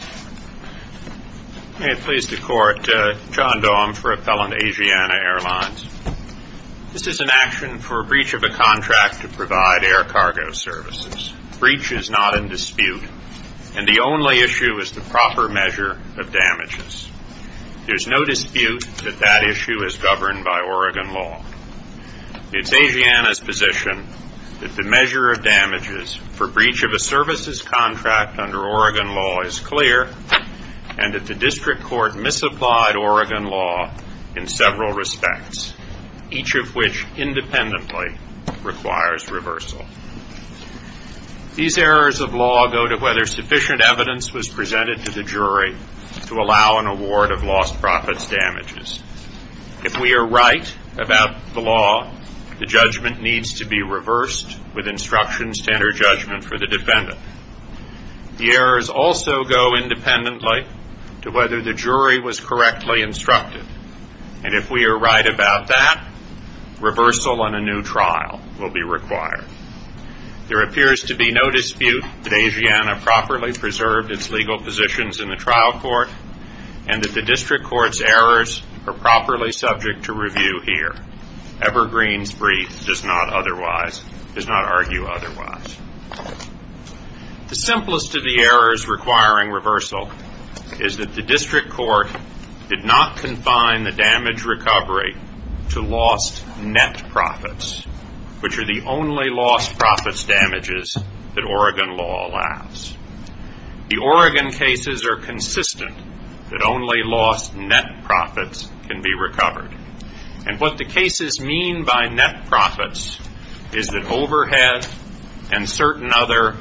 I am pleased to court John Daum for Appellant Asiana Airlines. This is an action for breach of a contract to provide air cargo services. Breach is not in dispute, and the only issue is the proper measure of damages. There is no dispute that that issue is governed by Oregon law. It is Asiana's position that the measure of damages for breach of a services contract under Oregon law is clear, and that the district court misapplied Oregon law in several respects, each of which independently requires reversal. These errors of law go to whether sufficient evidence was presented to the jury to allow an award of lost profits damages. If we are right about the law, the judgment needs to be reversed with instructions to enter judgment for the defendant. The errors also go independently to whether the jury was correctly instructed, and if we are right about that, reversal on a new trial will be required. There appears to be no dispute that Asiana properly preserved its legal positions in the trial court, and that the district court's errors are properly subject to review here. Evergreen's brief does not argue otherwise. The simplest of the errors requiring reversal is that the district court did not confine the damage recovery to lost net profits, which are the only lost profits damages that Oregon law allows. The Oregon cases are consistent that only lost net profits can be recovered. And what the cases mean by net profits is that overhead and certain other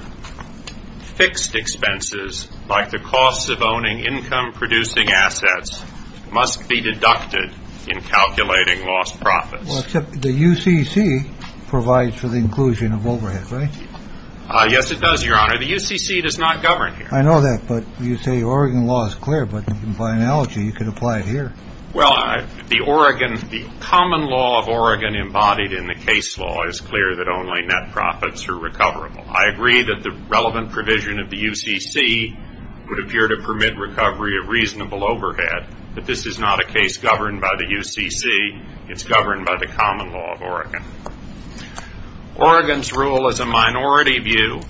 fixed expenses, like the costs of owning income-producing assets, must be deducted in calculating lost profits. Well, except the UCC provides for the inclusion of overhead, right? Yes, it does, Your Honor. The UCC does not govern here. I know that, but you say Oregon law is clear, but you can apply analogy. You could apply it here. Well, the Oregon, the common law of Oregon embodied in the case law is clear that only net profits are recoverable. I agree that the relevant provision of the UCC would appear to permit recovery of reasonable overhead, but this is not a case governed by the UCC. It's governed by the common law of Oregon. Oregon's rule is a minority view.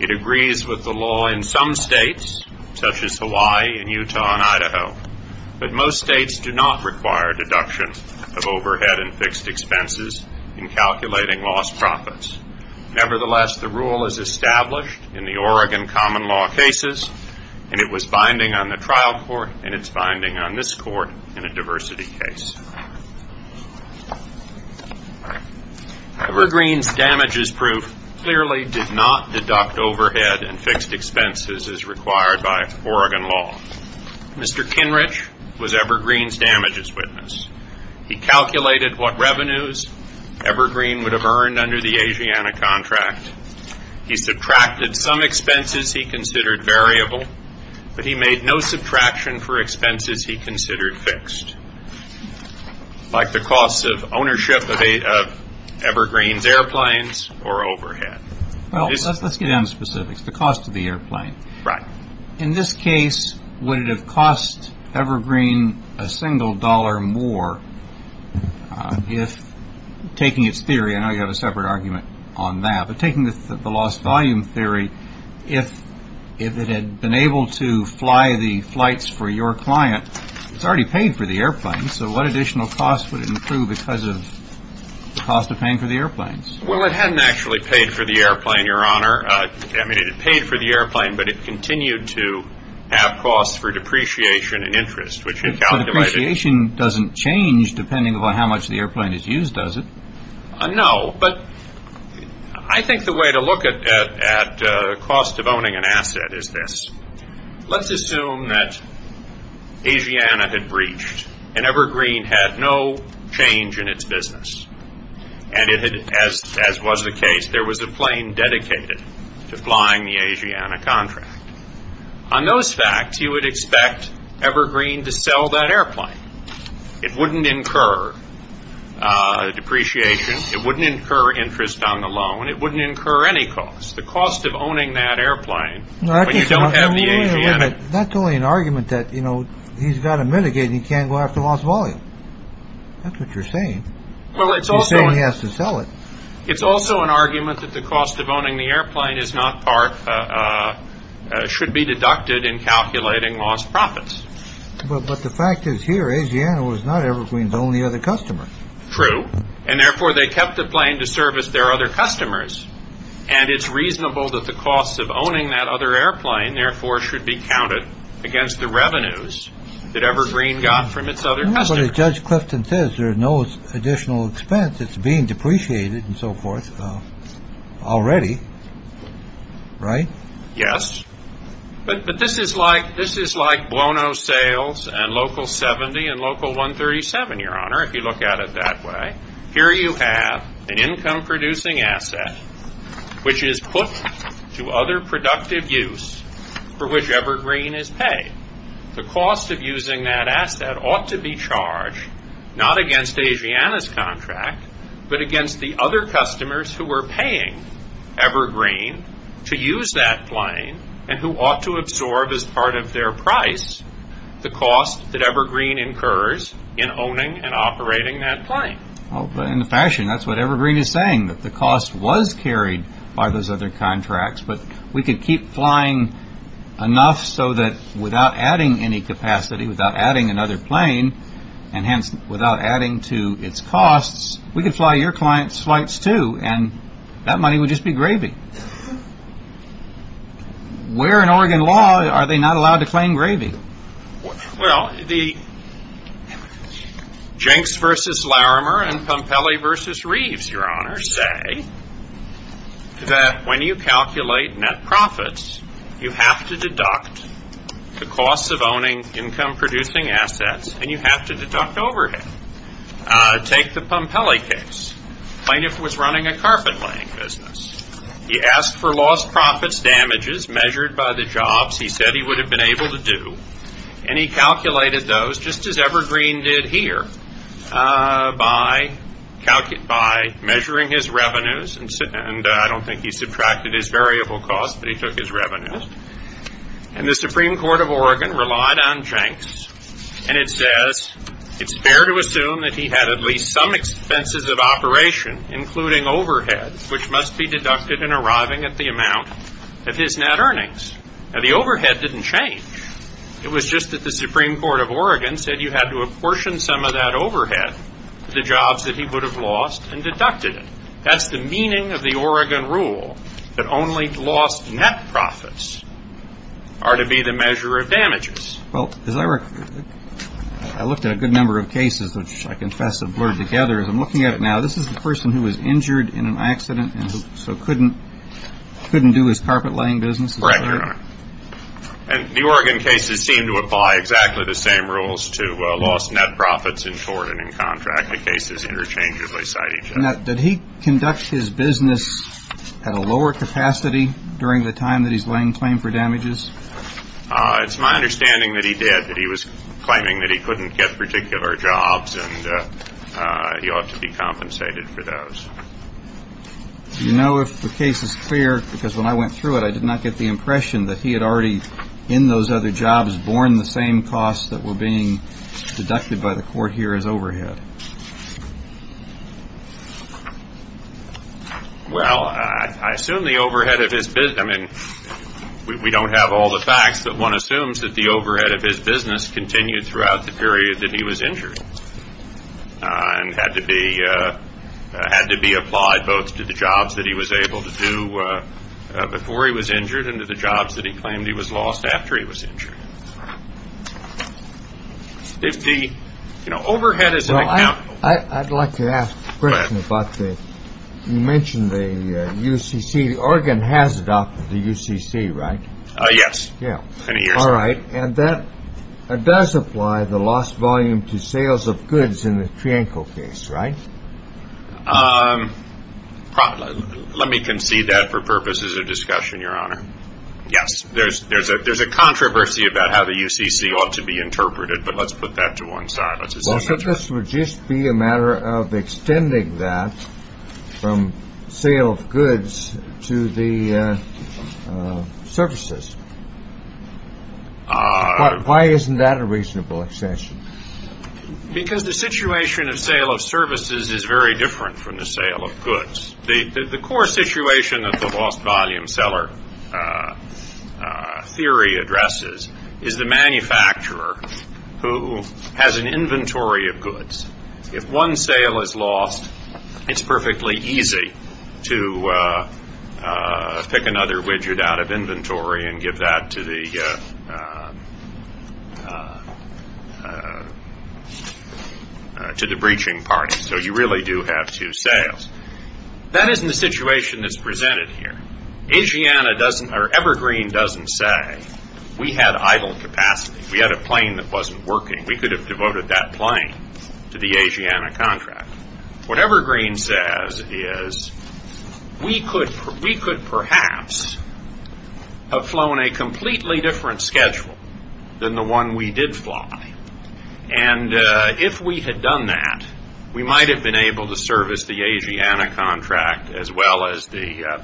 It agrees with the law in some states, such as Hawaii and Utah and Idaho, but most states do not require deductions of overhead and fixed expenses in calculating lost profits. Nevertheless, the rule is established in the Oregon common law cases, and it was binding on the trial court and it's binding on this court in a diversity case. Evergreen's damages proof clearly did not deduct overhead and fixed expenses as required by Oregon law. Mr. Kinrich was Evergreen's damages witness. He calculated what revenues Evergreen would have earned under the Asiana contract. He subtracted some expenses he considered fixed, like the cost of ownership of Evergreen's airplanes or overhead. Well, let's get down to specifics. The cost of the airplane. In this case, would it have cost Evergreen a single dollar more if, taking its theory, I know you have a separate argument on that, but taking the lost volume theory, if it had been able to fly the flights for your client, it's already paid for the airplane, so what additional cost would it improve because of the cost of paying for the airplanes? Well, it hadn't actually paid for the airplane, Your Honor. I mean, it had paid for the airplane, but it continued to have costs for depreciation and interest, which it calculated. But depreciation doesn't change depending upon how much the airplane is used, does it? No, but I think the way to look at the cost of owning an asset is this. Let's assume that Asiana had breached, and Evergreen had no change in its business. And it had, as was the case, there was a plane dedicated to flying the Asiana contract. On those facts, you would Evergreen to sell that airplane. It wouldn't incur depreciation. It wouldn't incur interest on the loan. It wouldn't incur any cost. The cost of owning that airplane, when you don't have the Asiana... No, I think that's only an argument that, you know, he's got to mitigate and he can't go after lost volume. That's what you're saying. You're saying he has to sell it. It's also an argument that the cost of owning the airplane is not part, should be deducted in calculating lost profits. But the fact is here, Asiana was not Evergreen's only other customer. True. And therefore, they kept the plane to service their other customers. And it's reasonable that the costs of owning that other airplane, therefore, should be counted against the revenues that Evergreen got from its other customers. But as Judge Clifton says, there's no additional expense. It's being depreciated and so forth already. Right? Yes. But this is like, this is like Bono Sales and Local 70 and Local 137, Your Honor, if you look at it that way. Here you have an income-producing asset, which is put to other productive use for which Evergreen is paid. The cost of using that asset ought to be charged not against Asiana's contract, but against the other customers who were paying Evergreen to use that plane and who ought to absorb as part of their price the cost that Evergreen incurs in owning and operating that plane. Well, in a fashion, that's what Evergreen is saying, that the cost was carried by those other contracts. But we could keep flying enough so that without adding any capacity, without adding another plane, and hence without adding to its costs, we could fly your client's flights, too, and that money would just be gravy. Where in Oregon law are they not allowed to claim gravy? Well, the Jenks v. Larimer and Pompelli v. Reeves, Your Honor, say that when you calculate net profits, you have to deduct the cost of owning income-producing assets, and you have to deduct overhead. Take the Pompelli case. Plaintiff was running a carpet-laying business. He asked for lost profits damages measured by the jobs he said he would have been able to do, and he calculated those just as Evergreen did here by measuring his revenues, and I don't think he subtracted his variable costs, but he took his revenues. And the Supreme It's fair to assume that he had at least some expenses of operation, including overhead, which must be deducted in arriving at the amount of his net earnings. Now, the overhead didn't change. It was just that the Supreme Court of Oregon said you had to apportion some of that overhead to the jobs that he would have lost and deducted it. That's the meaning of the Oregon rule, that only lost net profits are to be the measure of damages. Well, as I looked at a good number of cases, which I confess have blurred together, as I'm looking at it now, this is the person who was injured in an accident and so couldn't do his carpet-laying business? Correct, Your Honor. And the Oregon cases seem to apply exactly the same rules to lost net profits in tort and in contract. The cases interchangeably cite each other. Now, did he conduct his business at a lower capacity during the time that he's laying claim for damages? It's my understanding that he did, that he was claiming that he couldn't get particular jobs and he ought to be compensated for those. Do you know if the case is clear? Because when I went through it, I did not get the impression that he had already, in those other jobs, borne the same costs that were being deducted by the court here as overhead. Well, I assume the overhead of his business, I mean, we don't have all the facts, but one assumes that the overhead of his business continued throughout the period that he was injured and had to be applied both to the jobs that he was able to do before he was injured and to the jobs that he claimed he was lost after he was injured. Well, I'd like to ask a question about the, you mentioned the UCC, Oregon has adopted the UCC, right? Yes, many years ago. And that does apply the lost volume to sales of goods in the Trianco case, right? Let me concede that for purposes of discussion, Your Honor. Yes, there's a controversy about how the UCC ought to be interpreted, but let's put that to one side. Well, this would just be a matter of extending that from sale of goods to the services. Why isn't that a reasonable extension? Because the situation of sale of services is very different from the sale of goods. The core situation of the lost volume seller theory addresses is the manufacturer who has an inventory of goods. If one sale is lost, it's perfectly easy to pick another widget out of inventory and give that to the breaching party. So you really do have two sales. That isn't the situation that's presented here. Evergreen doesn't say, we had idle capacity. We had a plane that wasn't working. We could have devoted that plane to the Asiana contract. What Evergreen says is, we could perhaps have flown a completely different schedule than the one we did fly. And if we had done that, we might have been able to service the Asiana contract as well as the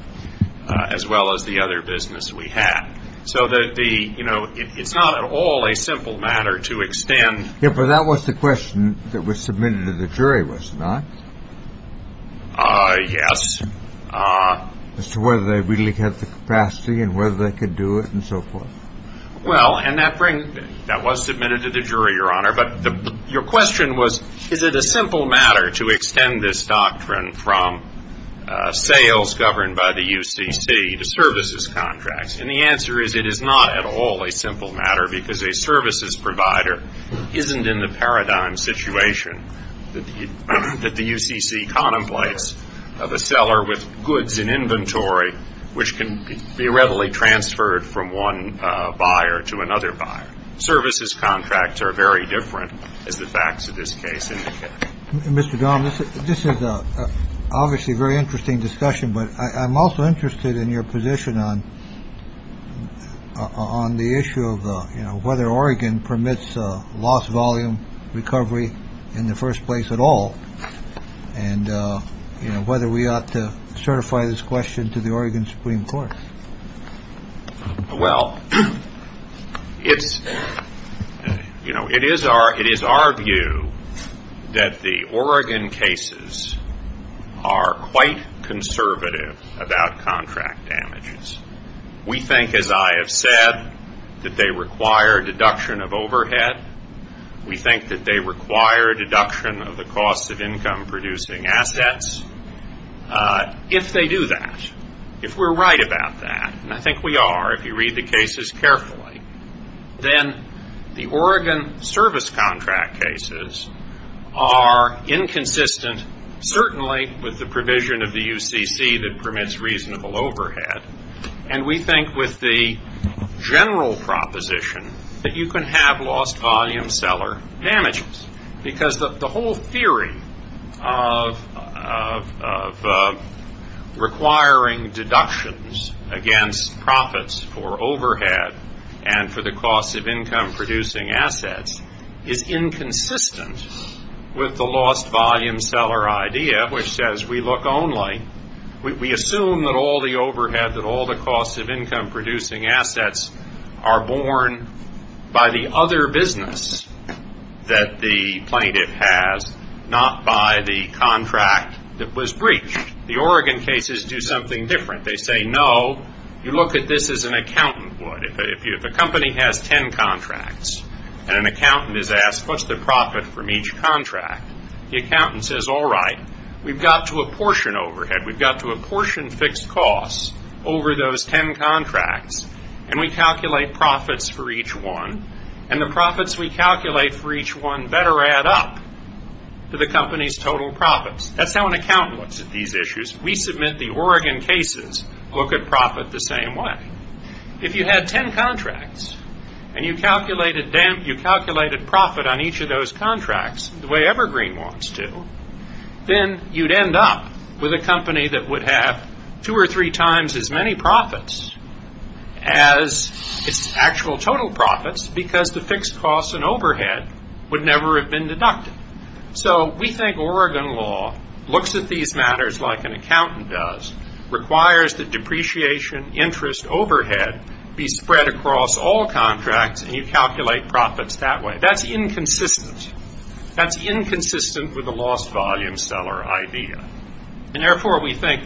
other business we had. So it's not at all a simple matter to extend. But that was the question that was submitted to the jury, was it not? Yes. As to whether they really had the capacity and whether they could do it and so forth. Well, and that was submitted to the jury, Your Honor. But your question was, is it a matter of sales governed by the UCC to services contracts? And the answer is, it is not at all a simple matter because a services provider isn't in the paradigm situation that the UCC contemplates of a seller with goods in inventory which can be readily transferred from one buyer to another buyer. Services contracts are very different, as the facts of this case indicate. Mr. Donovan, this is obviously a very interesting discussion, but I'm also interested in your position on the issue of whether Oregon permits loss volume recovery in the first place at all and whether we ought to certify this question to the Oregon Supreme Court. Well, it's, you know, it is our view that the Oregon cases are quite conservative about contract damages. We think, as I have said, that they require a deduction of overhead. We think that they require a deduction of the cost of income producing assets. If they do that, if we're right about that, and I think we are if you read the cases carefully, then the Oregon service contract cases are inconsistent certainly with the provision of the UCC that permits reasonable overhead. And we think with the general proposition that you can have lost volume seller damages because the whole theory of recovery in the requiring deductions against profits for overhead and for the cost of income producing assets is inconsistent with the lost volume seller idea, which says we look only, we assume that all the overhead, that all the cost of income producing assets are borne by the other business that the plaintiff has, not by the contract that was breached. The Oregon cases do something different. They say, no, you look at this as an accountant would. If a company has ten contracts and an accountant is asked, what's the profit from each contract? The accountant says, all right, we've got to apportion overhead. We've got to apportion fixed costs over those ten contracts, and we calculate profits for each one, and the profits we calculate for each one better add up to the company's total profits. That's how an accountant looks at these issues. We submit the Oregon cases, look at profit the same way. If you had ten contracts and you calculated profit on each of those contracts the way Evergreen wants to, then you'd end up with a company that would have two or three times as many profits as its actual total profits because the fixed costs and overhead would never have been deducted. So we think Oregon law looks at these matters like an accountant does, requires that depreciation, interest, overhead be spread across all contracts, and you calculate profits that way. That's inconsistent. That's inconsistent with the lost volume seller idea. And therefore we think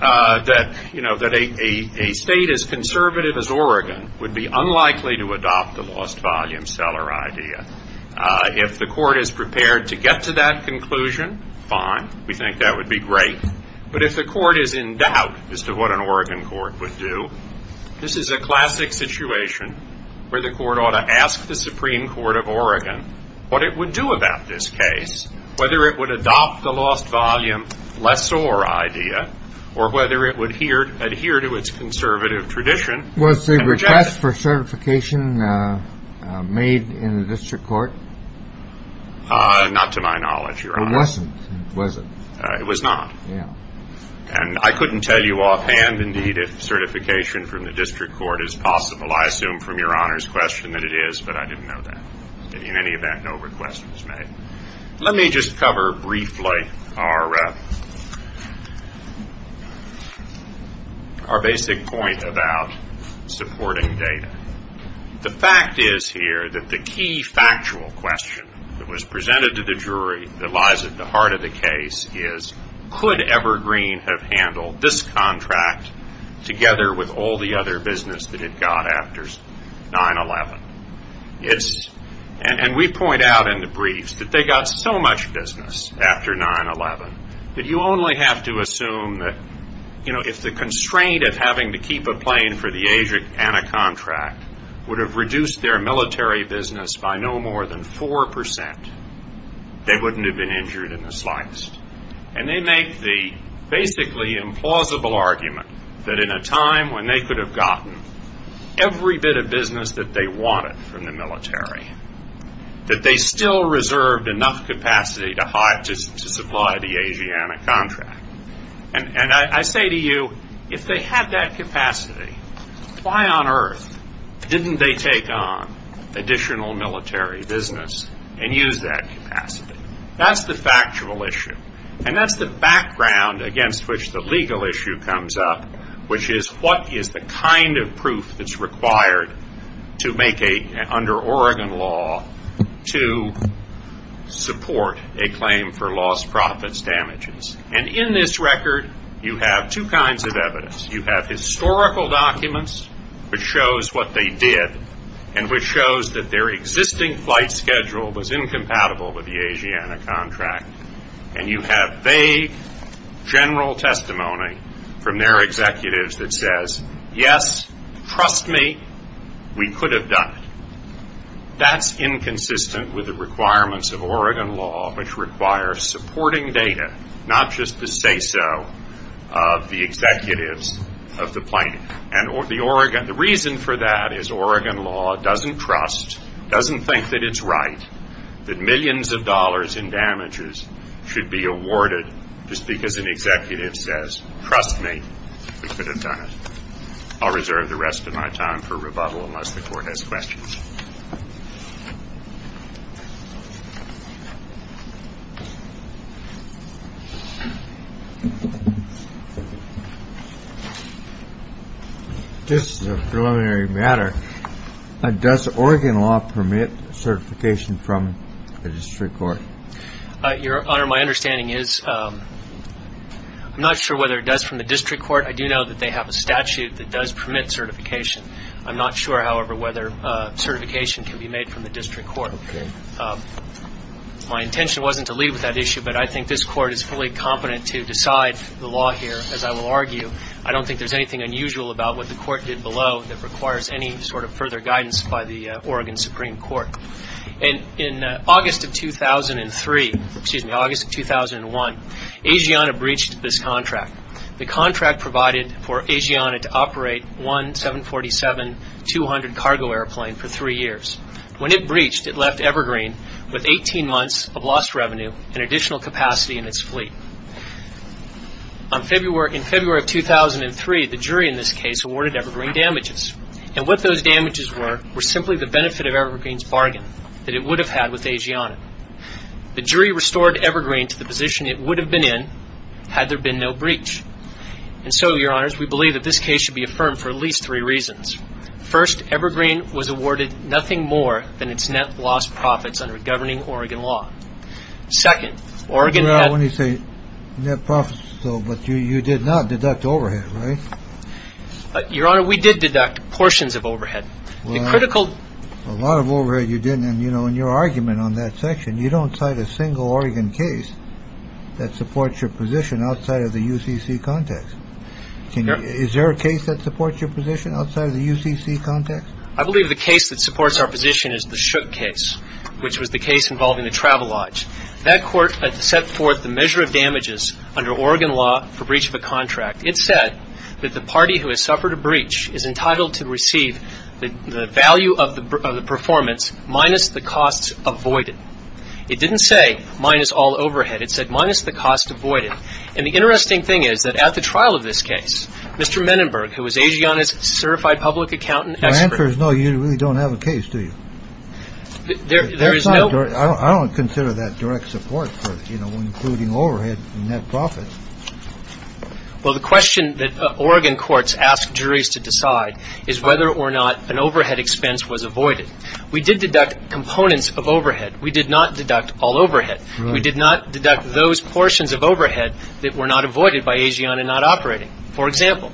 that a state as conservative as Oregon would be unlikely to adopt the lost volume seller idea. If the court is prepared to get to that conclusion, fine. We think that would be great. But if the court is in doubt as to what an Oregon court would do, this is a classic situation where the court ought to ask the Supreme Court of Oregon what it would do about this case, whether it would adopt the lost volume lessor idea, or whether it would adhere to its conservative tradition. Was the request for certification made in the district court? Not to my knowledge, Your Honor. It wasn't, was it? It was not. And I couldn't tell you offhand, indeed, if certification from the district court is possible. I assume from Your Honor's question that it is, but I didn't know that. In any event, no request was made. Let me just cover briefly our basic point about supporting data. The fact is here that the key factual question that was presented to the jury that lies at the heart of the case was, how do you handle this contract together with all the other business that it got after 9-11? It's, and we point out in the briefs that they got so much business after 9-11 that you only have to assume that, you know, if the constraint of having to keep a plane for the agent and a contract would have reduced their military business by no more than 4%, they wouldn't have been injured in the slightest. And they make the basically implausible argument that in a time when they could have gotten every bit of business that they wanted from the military, that they still reserved enough capacity to supply the Asiana contract. And I say to you, if they had that capacity, why on earth didn't they take on additional military business and use that capacity? That's the factual issue. And that's the background against which the legal issue comes up, which is, what is the kind of proof that's required to make a, under Oregon law, to support a claim for lost profits damages? And in this record, you have two kinds of evidence. You have historical documents which shows what they did and which shows that their existing flight schedule was incompatible with the Asiana contract. And you have vague general testimony from their executives that says, yes, trust me, we could have done it. That's inconsistent with the requirements of Oregon law, which requires supporting data, not just the say-so of the executives of the plane. And the Oregon, the reason for that is Oregon law doesn't trust, doesn't think that it's right that millions of dollars in damages should be awarded just because an executive says, trust me, we could have done it. I'll reserve the rest of my time for rebuttal unless the court has questions. This is a preliminary matter. Does Oregon law permit certification from a district court? Your Honor, my understanding is, I'm not sure whether it does from the district court. I do know that they have a statute that does permit certification. I'm not sure, however, whether certification can be made from the district court. My intention wasn't to lead with that issue, but I think this court is fully competent to decide the law here, as I will argue. I don't think there's anything unusual about what the court did below that requires any sort of further guidance by the Oregon Supreme Court. In August of 2003, excuse me, August of 2001, Asiana breached this contract. The contract provided for Asiana to operate one 747-200 cargo airplane for three years. When it breached, it left Evergreen with 18 months of lost revenue and additional capacity in its fleet. In February of 2003, the jury in this case awarded Evergreen damages, and what those damages were were simply the benefit of Evergreen's bargain that it would have had with Asiana. The jury restored Evergreen to the position it would have been in had there been no breach. And so, Your Honors, we believe that this case should be affirmed for at least three reasons. First, Evergreen was awarded nothing more than its net lost profits under governing Oregon law. Second, Oregon had... Well, when you say net profits, though, but you did not deduct overhead, right? Your Honor, we did deduct portions of overhead. The critical... Well, a lot of overhead you didn't, and, you know, in your argument on that section, you don't cite a single Oregon case that supports your position outside of the UCC context. Is there a case that supports your position outside of the UCC context? I believe the case that supports our position is the Shook case, which was the case involving the travel lodge. That court set forth the measure of damages under Oregon law for breach of a contract. It said that the party who has suffered a breach is entitled to receive the value of the performance minus the costs avoided. It didn't say minus all overhead. It said minus the cost avoided. And the interesting thing is that at the trial of this case, Mr. Menenberg, who was Asiana's certified public accountant... My answer is no, you really don't have a case, do you? There is no... I don't consider that direct support for, you know, including overhead and net profits. Well, the question that Oregon courts ask juries to decide is whether or not an overhead expense was avoided. We did deduct components of overhead. We did not deduct all overhead. We did not deduct those portions of overhead that were not avoided by Asiana not operating. For example,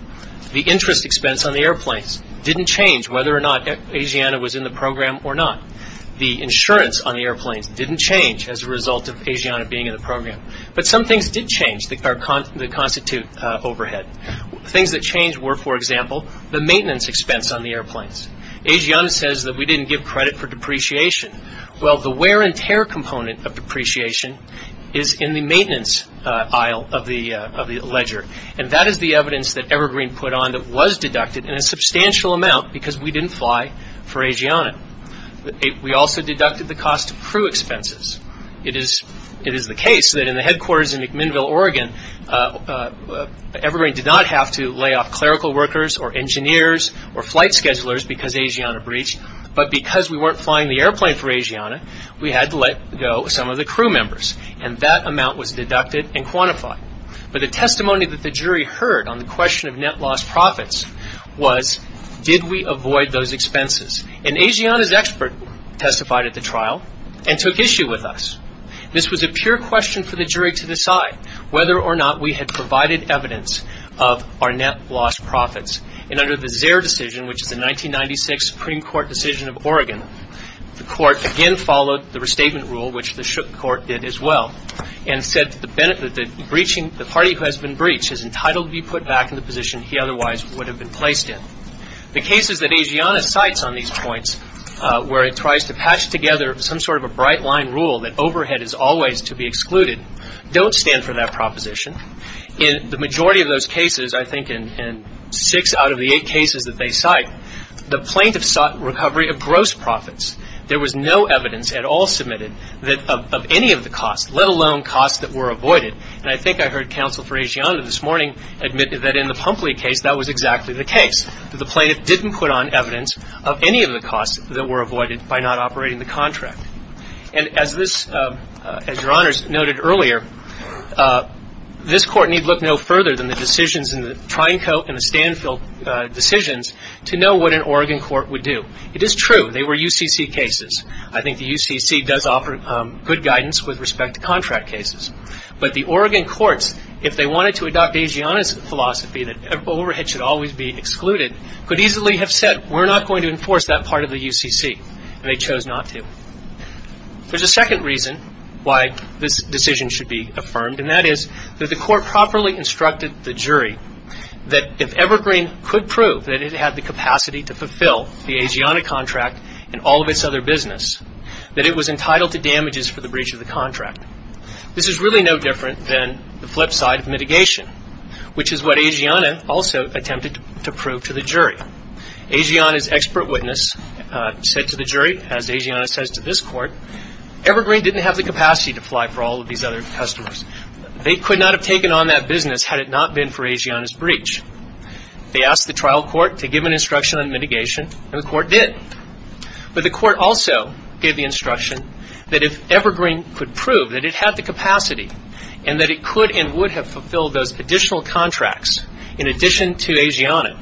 the interest expense on the airplanes didn't change whether or not Asiana was in the program or not. The insurance on the airplanes didn't change as a result of Asiana being in the program. But some things did change that constitute overhead. Things that changed were, for example, the maintenance expense on the airplanes. Asiana says that we didn't give credit for depreciation. Well, the wear and tear component of depreciation is in the maintenance aisle of the ledger. And that is the evidence that Evergreen put on that was deducted in a substantial amount because we didn't fly for Asiana. We also deducted the cost of crew expenses. It is the case that in the headquarters in McMinnville, Oregon, Evergreen did not have to lay off clerical workers or engineers or flight schedulers because Asiana breached. But because we weren't flying the airplane for Asiana, we had to let go some of the crew members. And that amount was deducted and quantified. But the testimony that the jury heard on the question of net loss profits was did we avoid those now and took issue with us? This was a pure question for the jury to decide whether or not we had provided evidence of our net loss profits. And under the Zare decision, which is the 1996 Supreme Court decision of Oregon, the court again followed the restatement rule, which the Shook Court did as well, and said that the party who has been breached is entitled to be put back in the position he otherwise would have been placed in. The cases that some sort of a bright-line rule that overhead is always to be excluded don't stand for that proposition. In the majority of those cases, I think in six out of the eight cases that they cite, the plaintiff sought recovery of gross profits. There was no evidence at all submitted of any of the costs, let alone costs that were avoided. And I think I heard counsel for Asiana this morning admit that in the Pumpley case, that was exactly the case, that the plaintiff didn't put on evidence of any of the costs that were avoided by not operating the contract. And as this, as Your Honors noted earlier, this court need look no further than the decisions in the Triangle and the Stanfield decisions to know what an Oregon court would do. It is true they were UCC cases. I think the UCC does offer good guidance with respect to contract cases. But the Oregon courts, if they wanted to adopt Asiana's philosophy that overhead should always be excluded, could easily have said, we're not going to enforce that part of the UCC. And they chose not to. There's a second reason why this decision should be affirmed, and that is that the court properly instructed the jury that if Evergreen could prove that it had the capacity to fulfill the Asiana contract and all of its other business, that it was entitled to damages for the breach of the contract. This is really no different than the flip side of mitigation, which is what Asiana also attempted to prove to the jury. Asiana's expert witness said to the jury, as Asiana says to this court, Evergreen didn't have the capacity to fly for all of these other customers. They could not have taken on that business had it not been for Asiana's breach. They asked the trial court to give an instruction on mitigation, and the court did. But the court also gave the instruction that if Evergreen could prove that it had the capacity and that it could and would have fulfilled those additional contracts in addition to Asiana,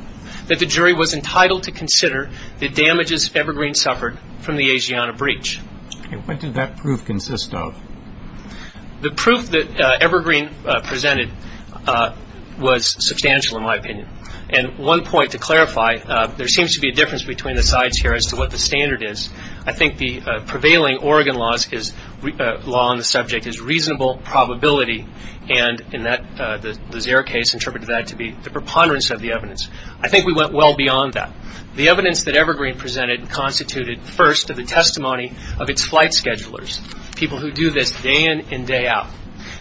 that the jury was entitled to consider the damages Evergreen suffered from the Asiana breach. Okay. What did that proof consist of? The proof that Evergreen presented was substantial, in my opinion. And one point to clarify, there seems to be a difference between the sides here as to what the standard is. I think the standard subject is reasonable probability, and in the Lazaire case interpreted that to be the preponderance of the evidence. I think we went well beyond that. The evidence that Evergreen presented constituted first of the testimony of its flight schedulers, people who do this day in and day out.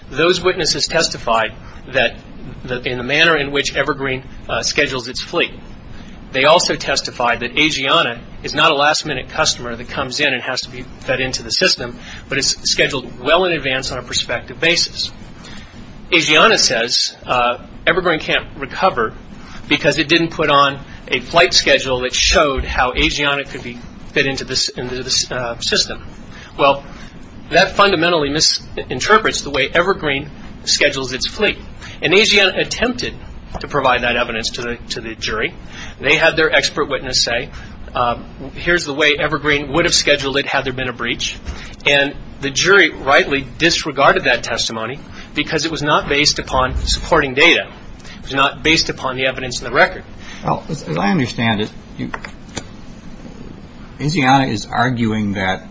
Those witnesses testified in the manner in which Evergreen schedules its fleet. They also testified that Asiana is not a last-minute customer that can advance on a prospective basis. Asiana says Evergreen can't recover because it didn't put on a flight schedule that showed how Asiana could fit into the system. Well, that fundamentally misinterprets the way Evergreen schedules its fleet. And Asiana attempted to provide that evidence to the jury. They had their expert witness say, here's the way Evergreen would have scheduled it had there been a breach. And the jury rightly disregarded that testimony because it was not based upon supporting data. It was not based upon the evidence in the record. Well, as I understand it, Asiana is arguing that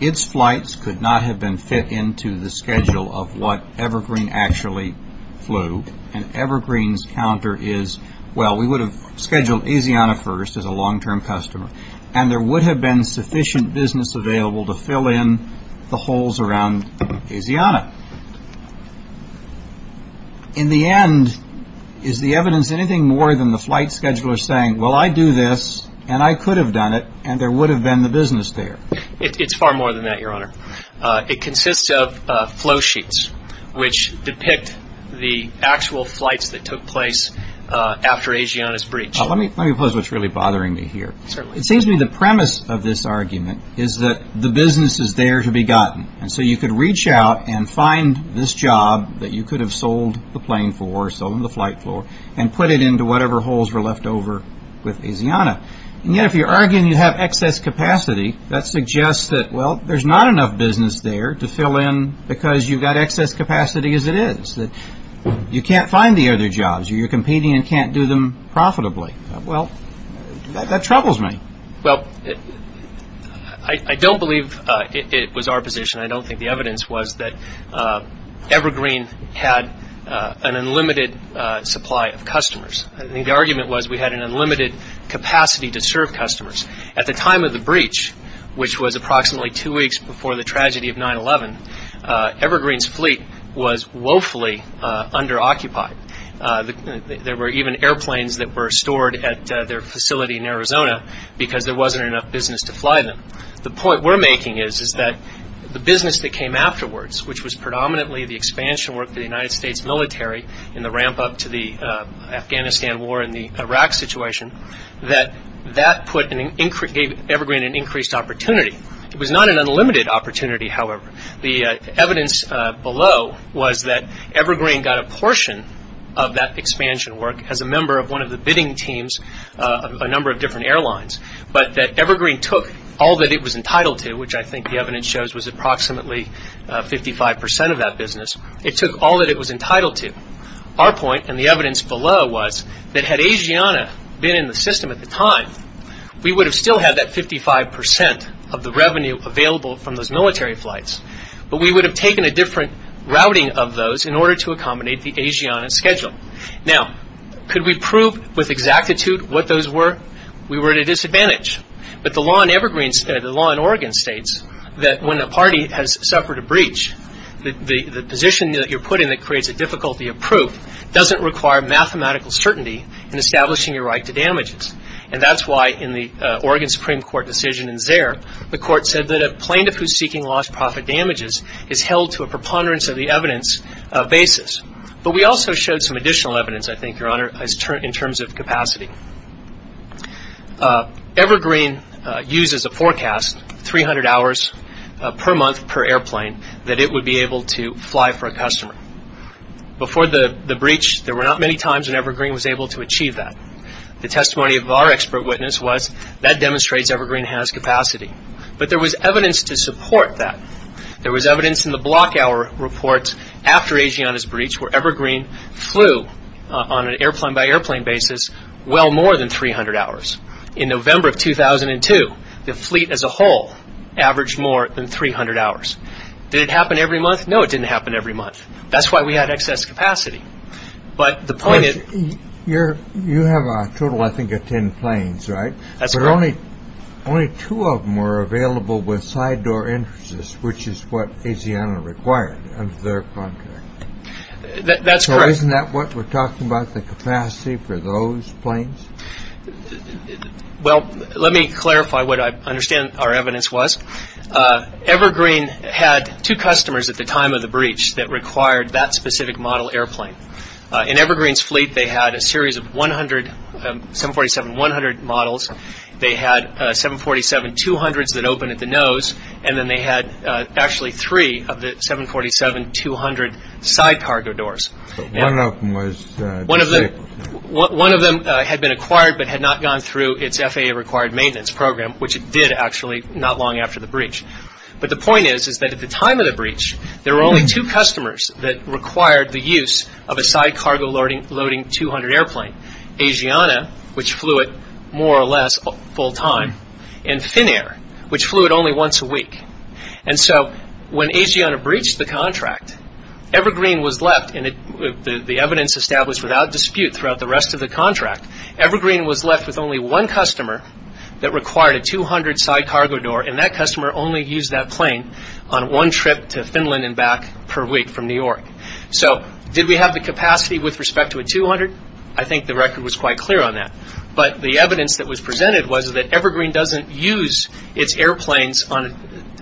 its flights could not have been fit into the schedule of what Evergreen actually flew. And Evergreen's counter is, well, we would have scheduled Asiana first as a long-term customer. And there would have been sufficient business available to fill in the holes around Asiana. In the end, is the evidence anything more than the flight scheduler saying, well, I do this and I could have done it and there would have been the business there? It's far more than that, Your Honor. It consists of flow sheets which depict the actual flights that took place after Asiana's breach. Let me pose what's really bothering me here. Certainly. It seems to me the premise of this argument is that the business is there to be gotten. And so you could reach out and find this job that you could have sold the plane for, sold on the flight floor, and put it into whatever holes were left over with Asiana. And yet if you're arguing you have excess capacity, that suggests that, well, there's not enough business there to fill in because you've got excess capacity as it is. You can't find the other jobs. You're competing and can't do them profitably. Well, that troubles me. Well, I don't believe it was our position. I don't think the evidence was that Evergreen had an unlimited supply of customers. I think the argument was we had an unlimited capacity to serve customers. At the time of the breach, which was approximately two weeks before the tragedy of 9-11, Evergreen's was woefully under-occupied. There were even airplanes that were stored at their facility in Arizona because there wasn't enough business to fly them. The point we're making is that the business that came afterwards, which was predominantly the expansion work of the United States military in the ramp-up to the Afghanistan war and the Iraq situation, that that put Evergreen in increased opportunity. It was not an unlimited opportunity, however. The evidence below was that Evergreen got a portion of that expansion work as a member of one of the bidding teams of a number of different airlines, but that Evergreen took all that it was entitled to, which I think the evidence shows was approximately 55 percent of that business. It took all that it was entitled to. Our point and the evidence below was that had Asiana been in the system at the time, we would have still had that 55 percent of the revenue available from those military flights, but we would have taken a different routing of those in order to accommodate the Asiana schedule. Now, could we prove with exactitude what those were? We were at a disadvantage, but the law in Oregon states that when a party has suffered a breach, the position that you're put in that creates a difficulty of proof doesn't require mathematical certainty in establishing your right to damages, and that's why in the Oregon Supreme Court decision in Zaire, the court said that a plaintiff who's seeking lost profit damages is held to a preponderance of the evidence basis, but we also showed some additional evidence, I think, Your Honor, in terms of capacity. Evergreen used as a forecast 300 hours per month per airplane that it would be able to fly for a customer. Before the breach, there were not many times when Evergreen was able to achieve that. The testimony of our expert witness was that demonstrates Evergreen has capacity, but there was evidence to support that. There was evidence in the block hour reports after Asiana's breach where Evergreen flew on an airplane-by-airplane basis well more than 300 hours. In November of 2002, the fleet as a whole averaged more than 300 hours. Did it happen every month? No, it didn't happen every month. That's why we had excess capacity. You have a total, I think, of 10 planes, right? That's correct. But only two of them were available with side door entrances, which is what Asiana required under their contract. That's correct. So isn't that what we're talking about, the capacity for those planes? Well, let me clarify what I understand our evidence was. Evergreen had two customers at the time of the breach that required that specific model airplane. In Evergreen's fleet, they had a series of 747-100 models. They had 747-200s that opened at the nose, and then they had actually three of the 747-200 side cargo doors. So one of them was... One of them had been acquired but had not gone through its FAA-required maintenance program, which it did actually not long after the breach. But the point is that at the time of the breach, there were only two customers that required the use of a side cargo-loading 200 airplane, Asiana, which flew it more or less full-time, and Finnair, which flew it only once a week. And so when Asiana breached the contract, Evergreen was left, and the evidence established without dispute throughout the rest of the contract, Evergreen was left with only one customer that required a 200 side cargo door, and that customer only used that plane on one trip to Finland and back per week from New York. So did we have the capacity with respect to a 200? I think the record was quite clear on that. But the evidence that was presented was that Evergreen doesn't use its airplanes on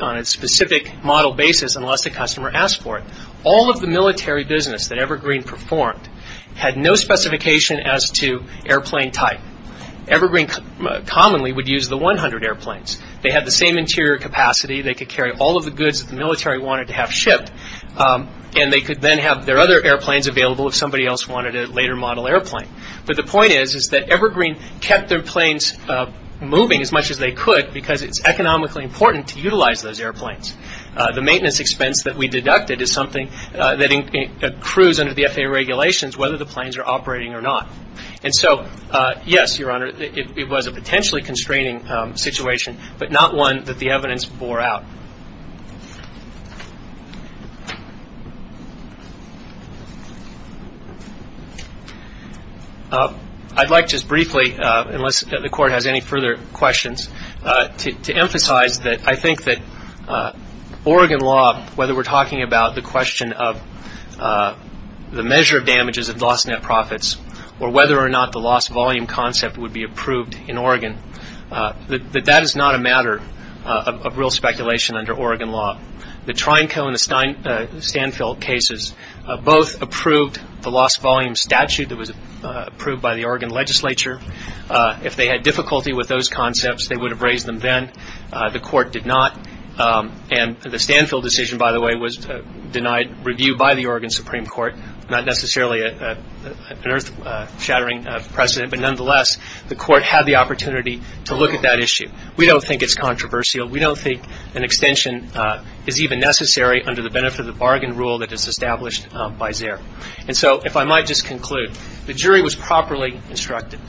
a specific model basis unless the customer asked for it. All of the military business that Evergreen performed had no specification as to airplane type. Evergreen commonly would use the 100 airplanes. They had the same interior capacity. They could carry all of the goods that the military wanted to have shipped, and they could then have their other airplanes available if somebody else wanted a later model airplane. But the point is that Evergreen kept their planes moving as much as they could because it's economically important to utilize those airplanes. The maintenance expense that we deducted is something that accrues under the FAA regulations whether the planes are operating or not. And so, yes, Your Honor, it was a potentially constraining situation, but not one that the FAA has ruled out. I'd like just briefly, unless the Court has any further questions, to emphasize that I think that Oregon law, whether we're talking about the question of the measure of damages of lost net profits or whether or not the lost volume concept would be approved in Oregon, that that is not a matter of real speculation under Oregon law. The Trinco and the Stanfield cases both approved the lost volume statute that was approved by the Oregon legislature. If they had difficulty with those concepts, they would have raised them then. The Court did not. And the Stanfield decision, by the way, was denied review by the Oregon Supreme Court, not necessarily an earth-shattering precedent. But nonetheless, the Court had the opportunity to look at that issue. We don't think it's controversial. We don't think an extension is even necessary under the benefit of the bargain rule that is established by Zare. And so if I might just conclude, the jury was properly instructed.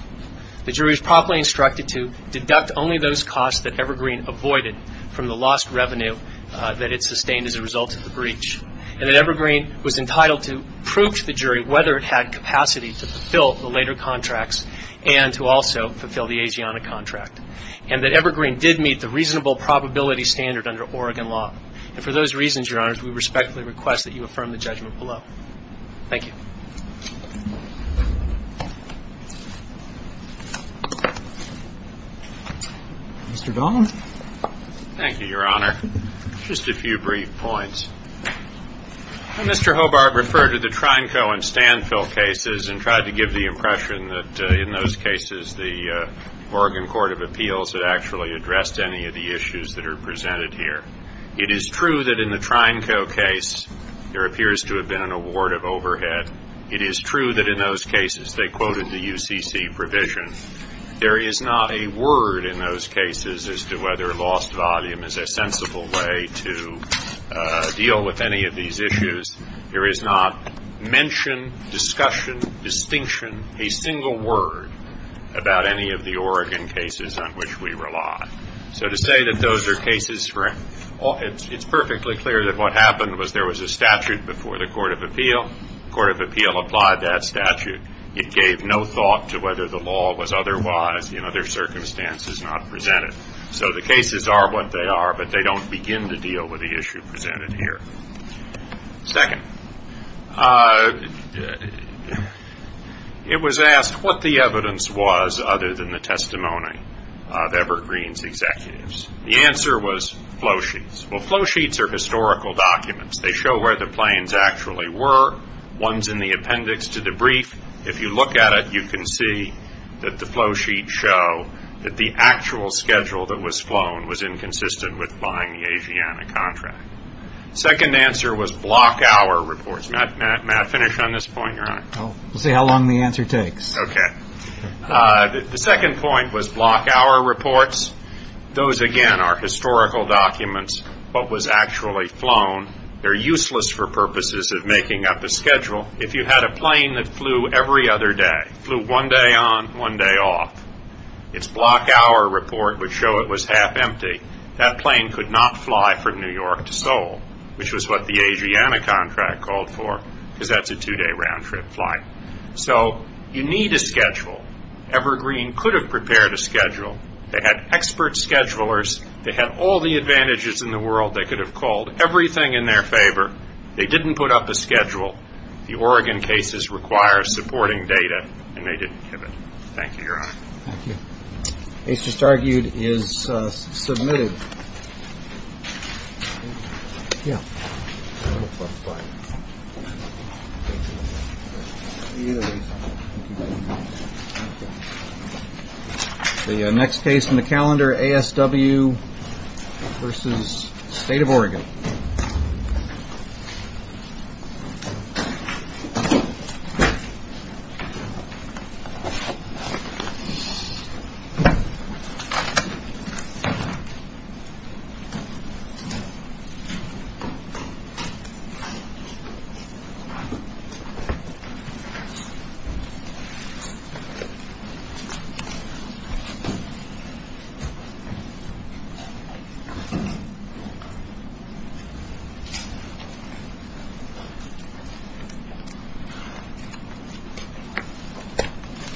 The jury was properly instructed to deduct only those costs that Evergreen avoided from the lost revenue that it sustained as a result of the breach. And that Evergreen was entitled to prove to the jury whether it had capacity to fulfill the later contracts and to also fulfill the Asiana contract. And that Evergreen did meet the reasonable probability standard under Oregon law. And for those reasons, Your Honors, we respectfully request that you affirm the judgment below. Thank you. Mr. Dahlman. Thank you, Your Honor. Just a few brief points. Mr. Hobart referred to the Trineco and Stanfill cases and tried to give the impression that in those cases the Oregon Court of Appeals had actually addressed any of the issues that are presented here. It is true that in the Trineco case there appears to have been an award of overhead. It is true that in those cases they quoted the UCC provision. There is not a word in those cases as to whether lost volume is a sensible way to deal with any of these issues. There is not mention, discussion, distinction, a single word about any of the Oregon cases on which we rely. So to say that those are cases for it's perfectly clear that what happened was there was a statute before the Court of Appeal. The Court of Appeal applied that statute. It gave no thought to whether the law was otherwise in other circumstances not presented. So the cases are what they are, but they don't begin to deal with the issue presented here. Second, it was asked what the evidence was other than the testimony of Evergreen's executives. The answer was flow sheets. Well, flow sheets are historical documents. They show where the planes actually were. One's in the appendix to the brief. If you look at it, you can see that the flow sheets show that the actual schedule that was flown was inconsistent with buying the Asiana contract. Second answer was block hour reports. Matt, may I finish on this point? You're on it. We'll see how long the answer takes. Okay. The second point was block hour reports. Those, again, are historical documents, what was actually flown. They're useless for purposes of making up a schedule. If you had a plane that flew every other day, flew one day on, one day off, its block hour report would show it was half empty. That plane could not fly from New York to Seoul, which was what the Asiana contract called for, because that's a two-day round-trip flight. So you need a schedule. Evergreen could have prepared a schedule. They had expert schedulers. They had all the advantages in the world. They could have called everything in their favor. They didn't put up a schedule. The Oregon cases require supporting data, and they didn't give it. Thank you, Your Honor. Thank you. The case just argued is submitted. The next case in the calendar, ASW v. State of Oregon. Thank you, Your Honor. Thank you.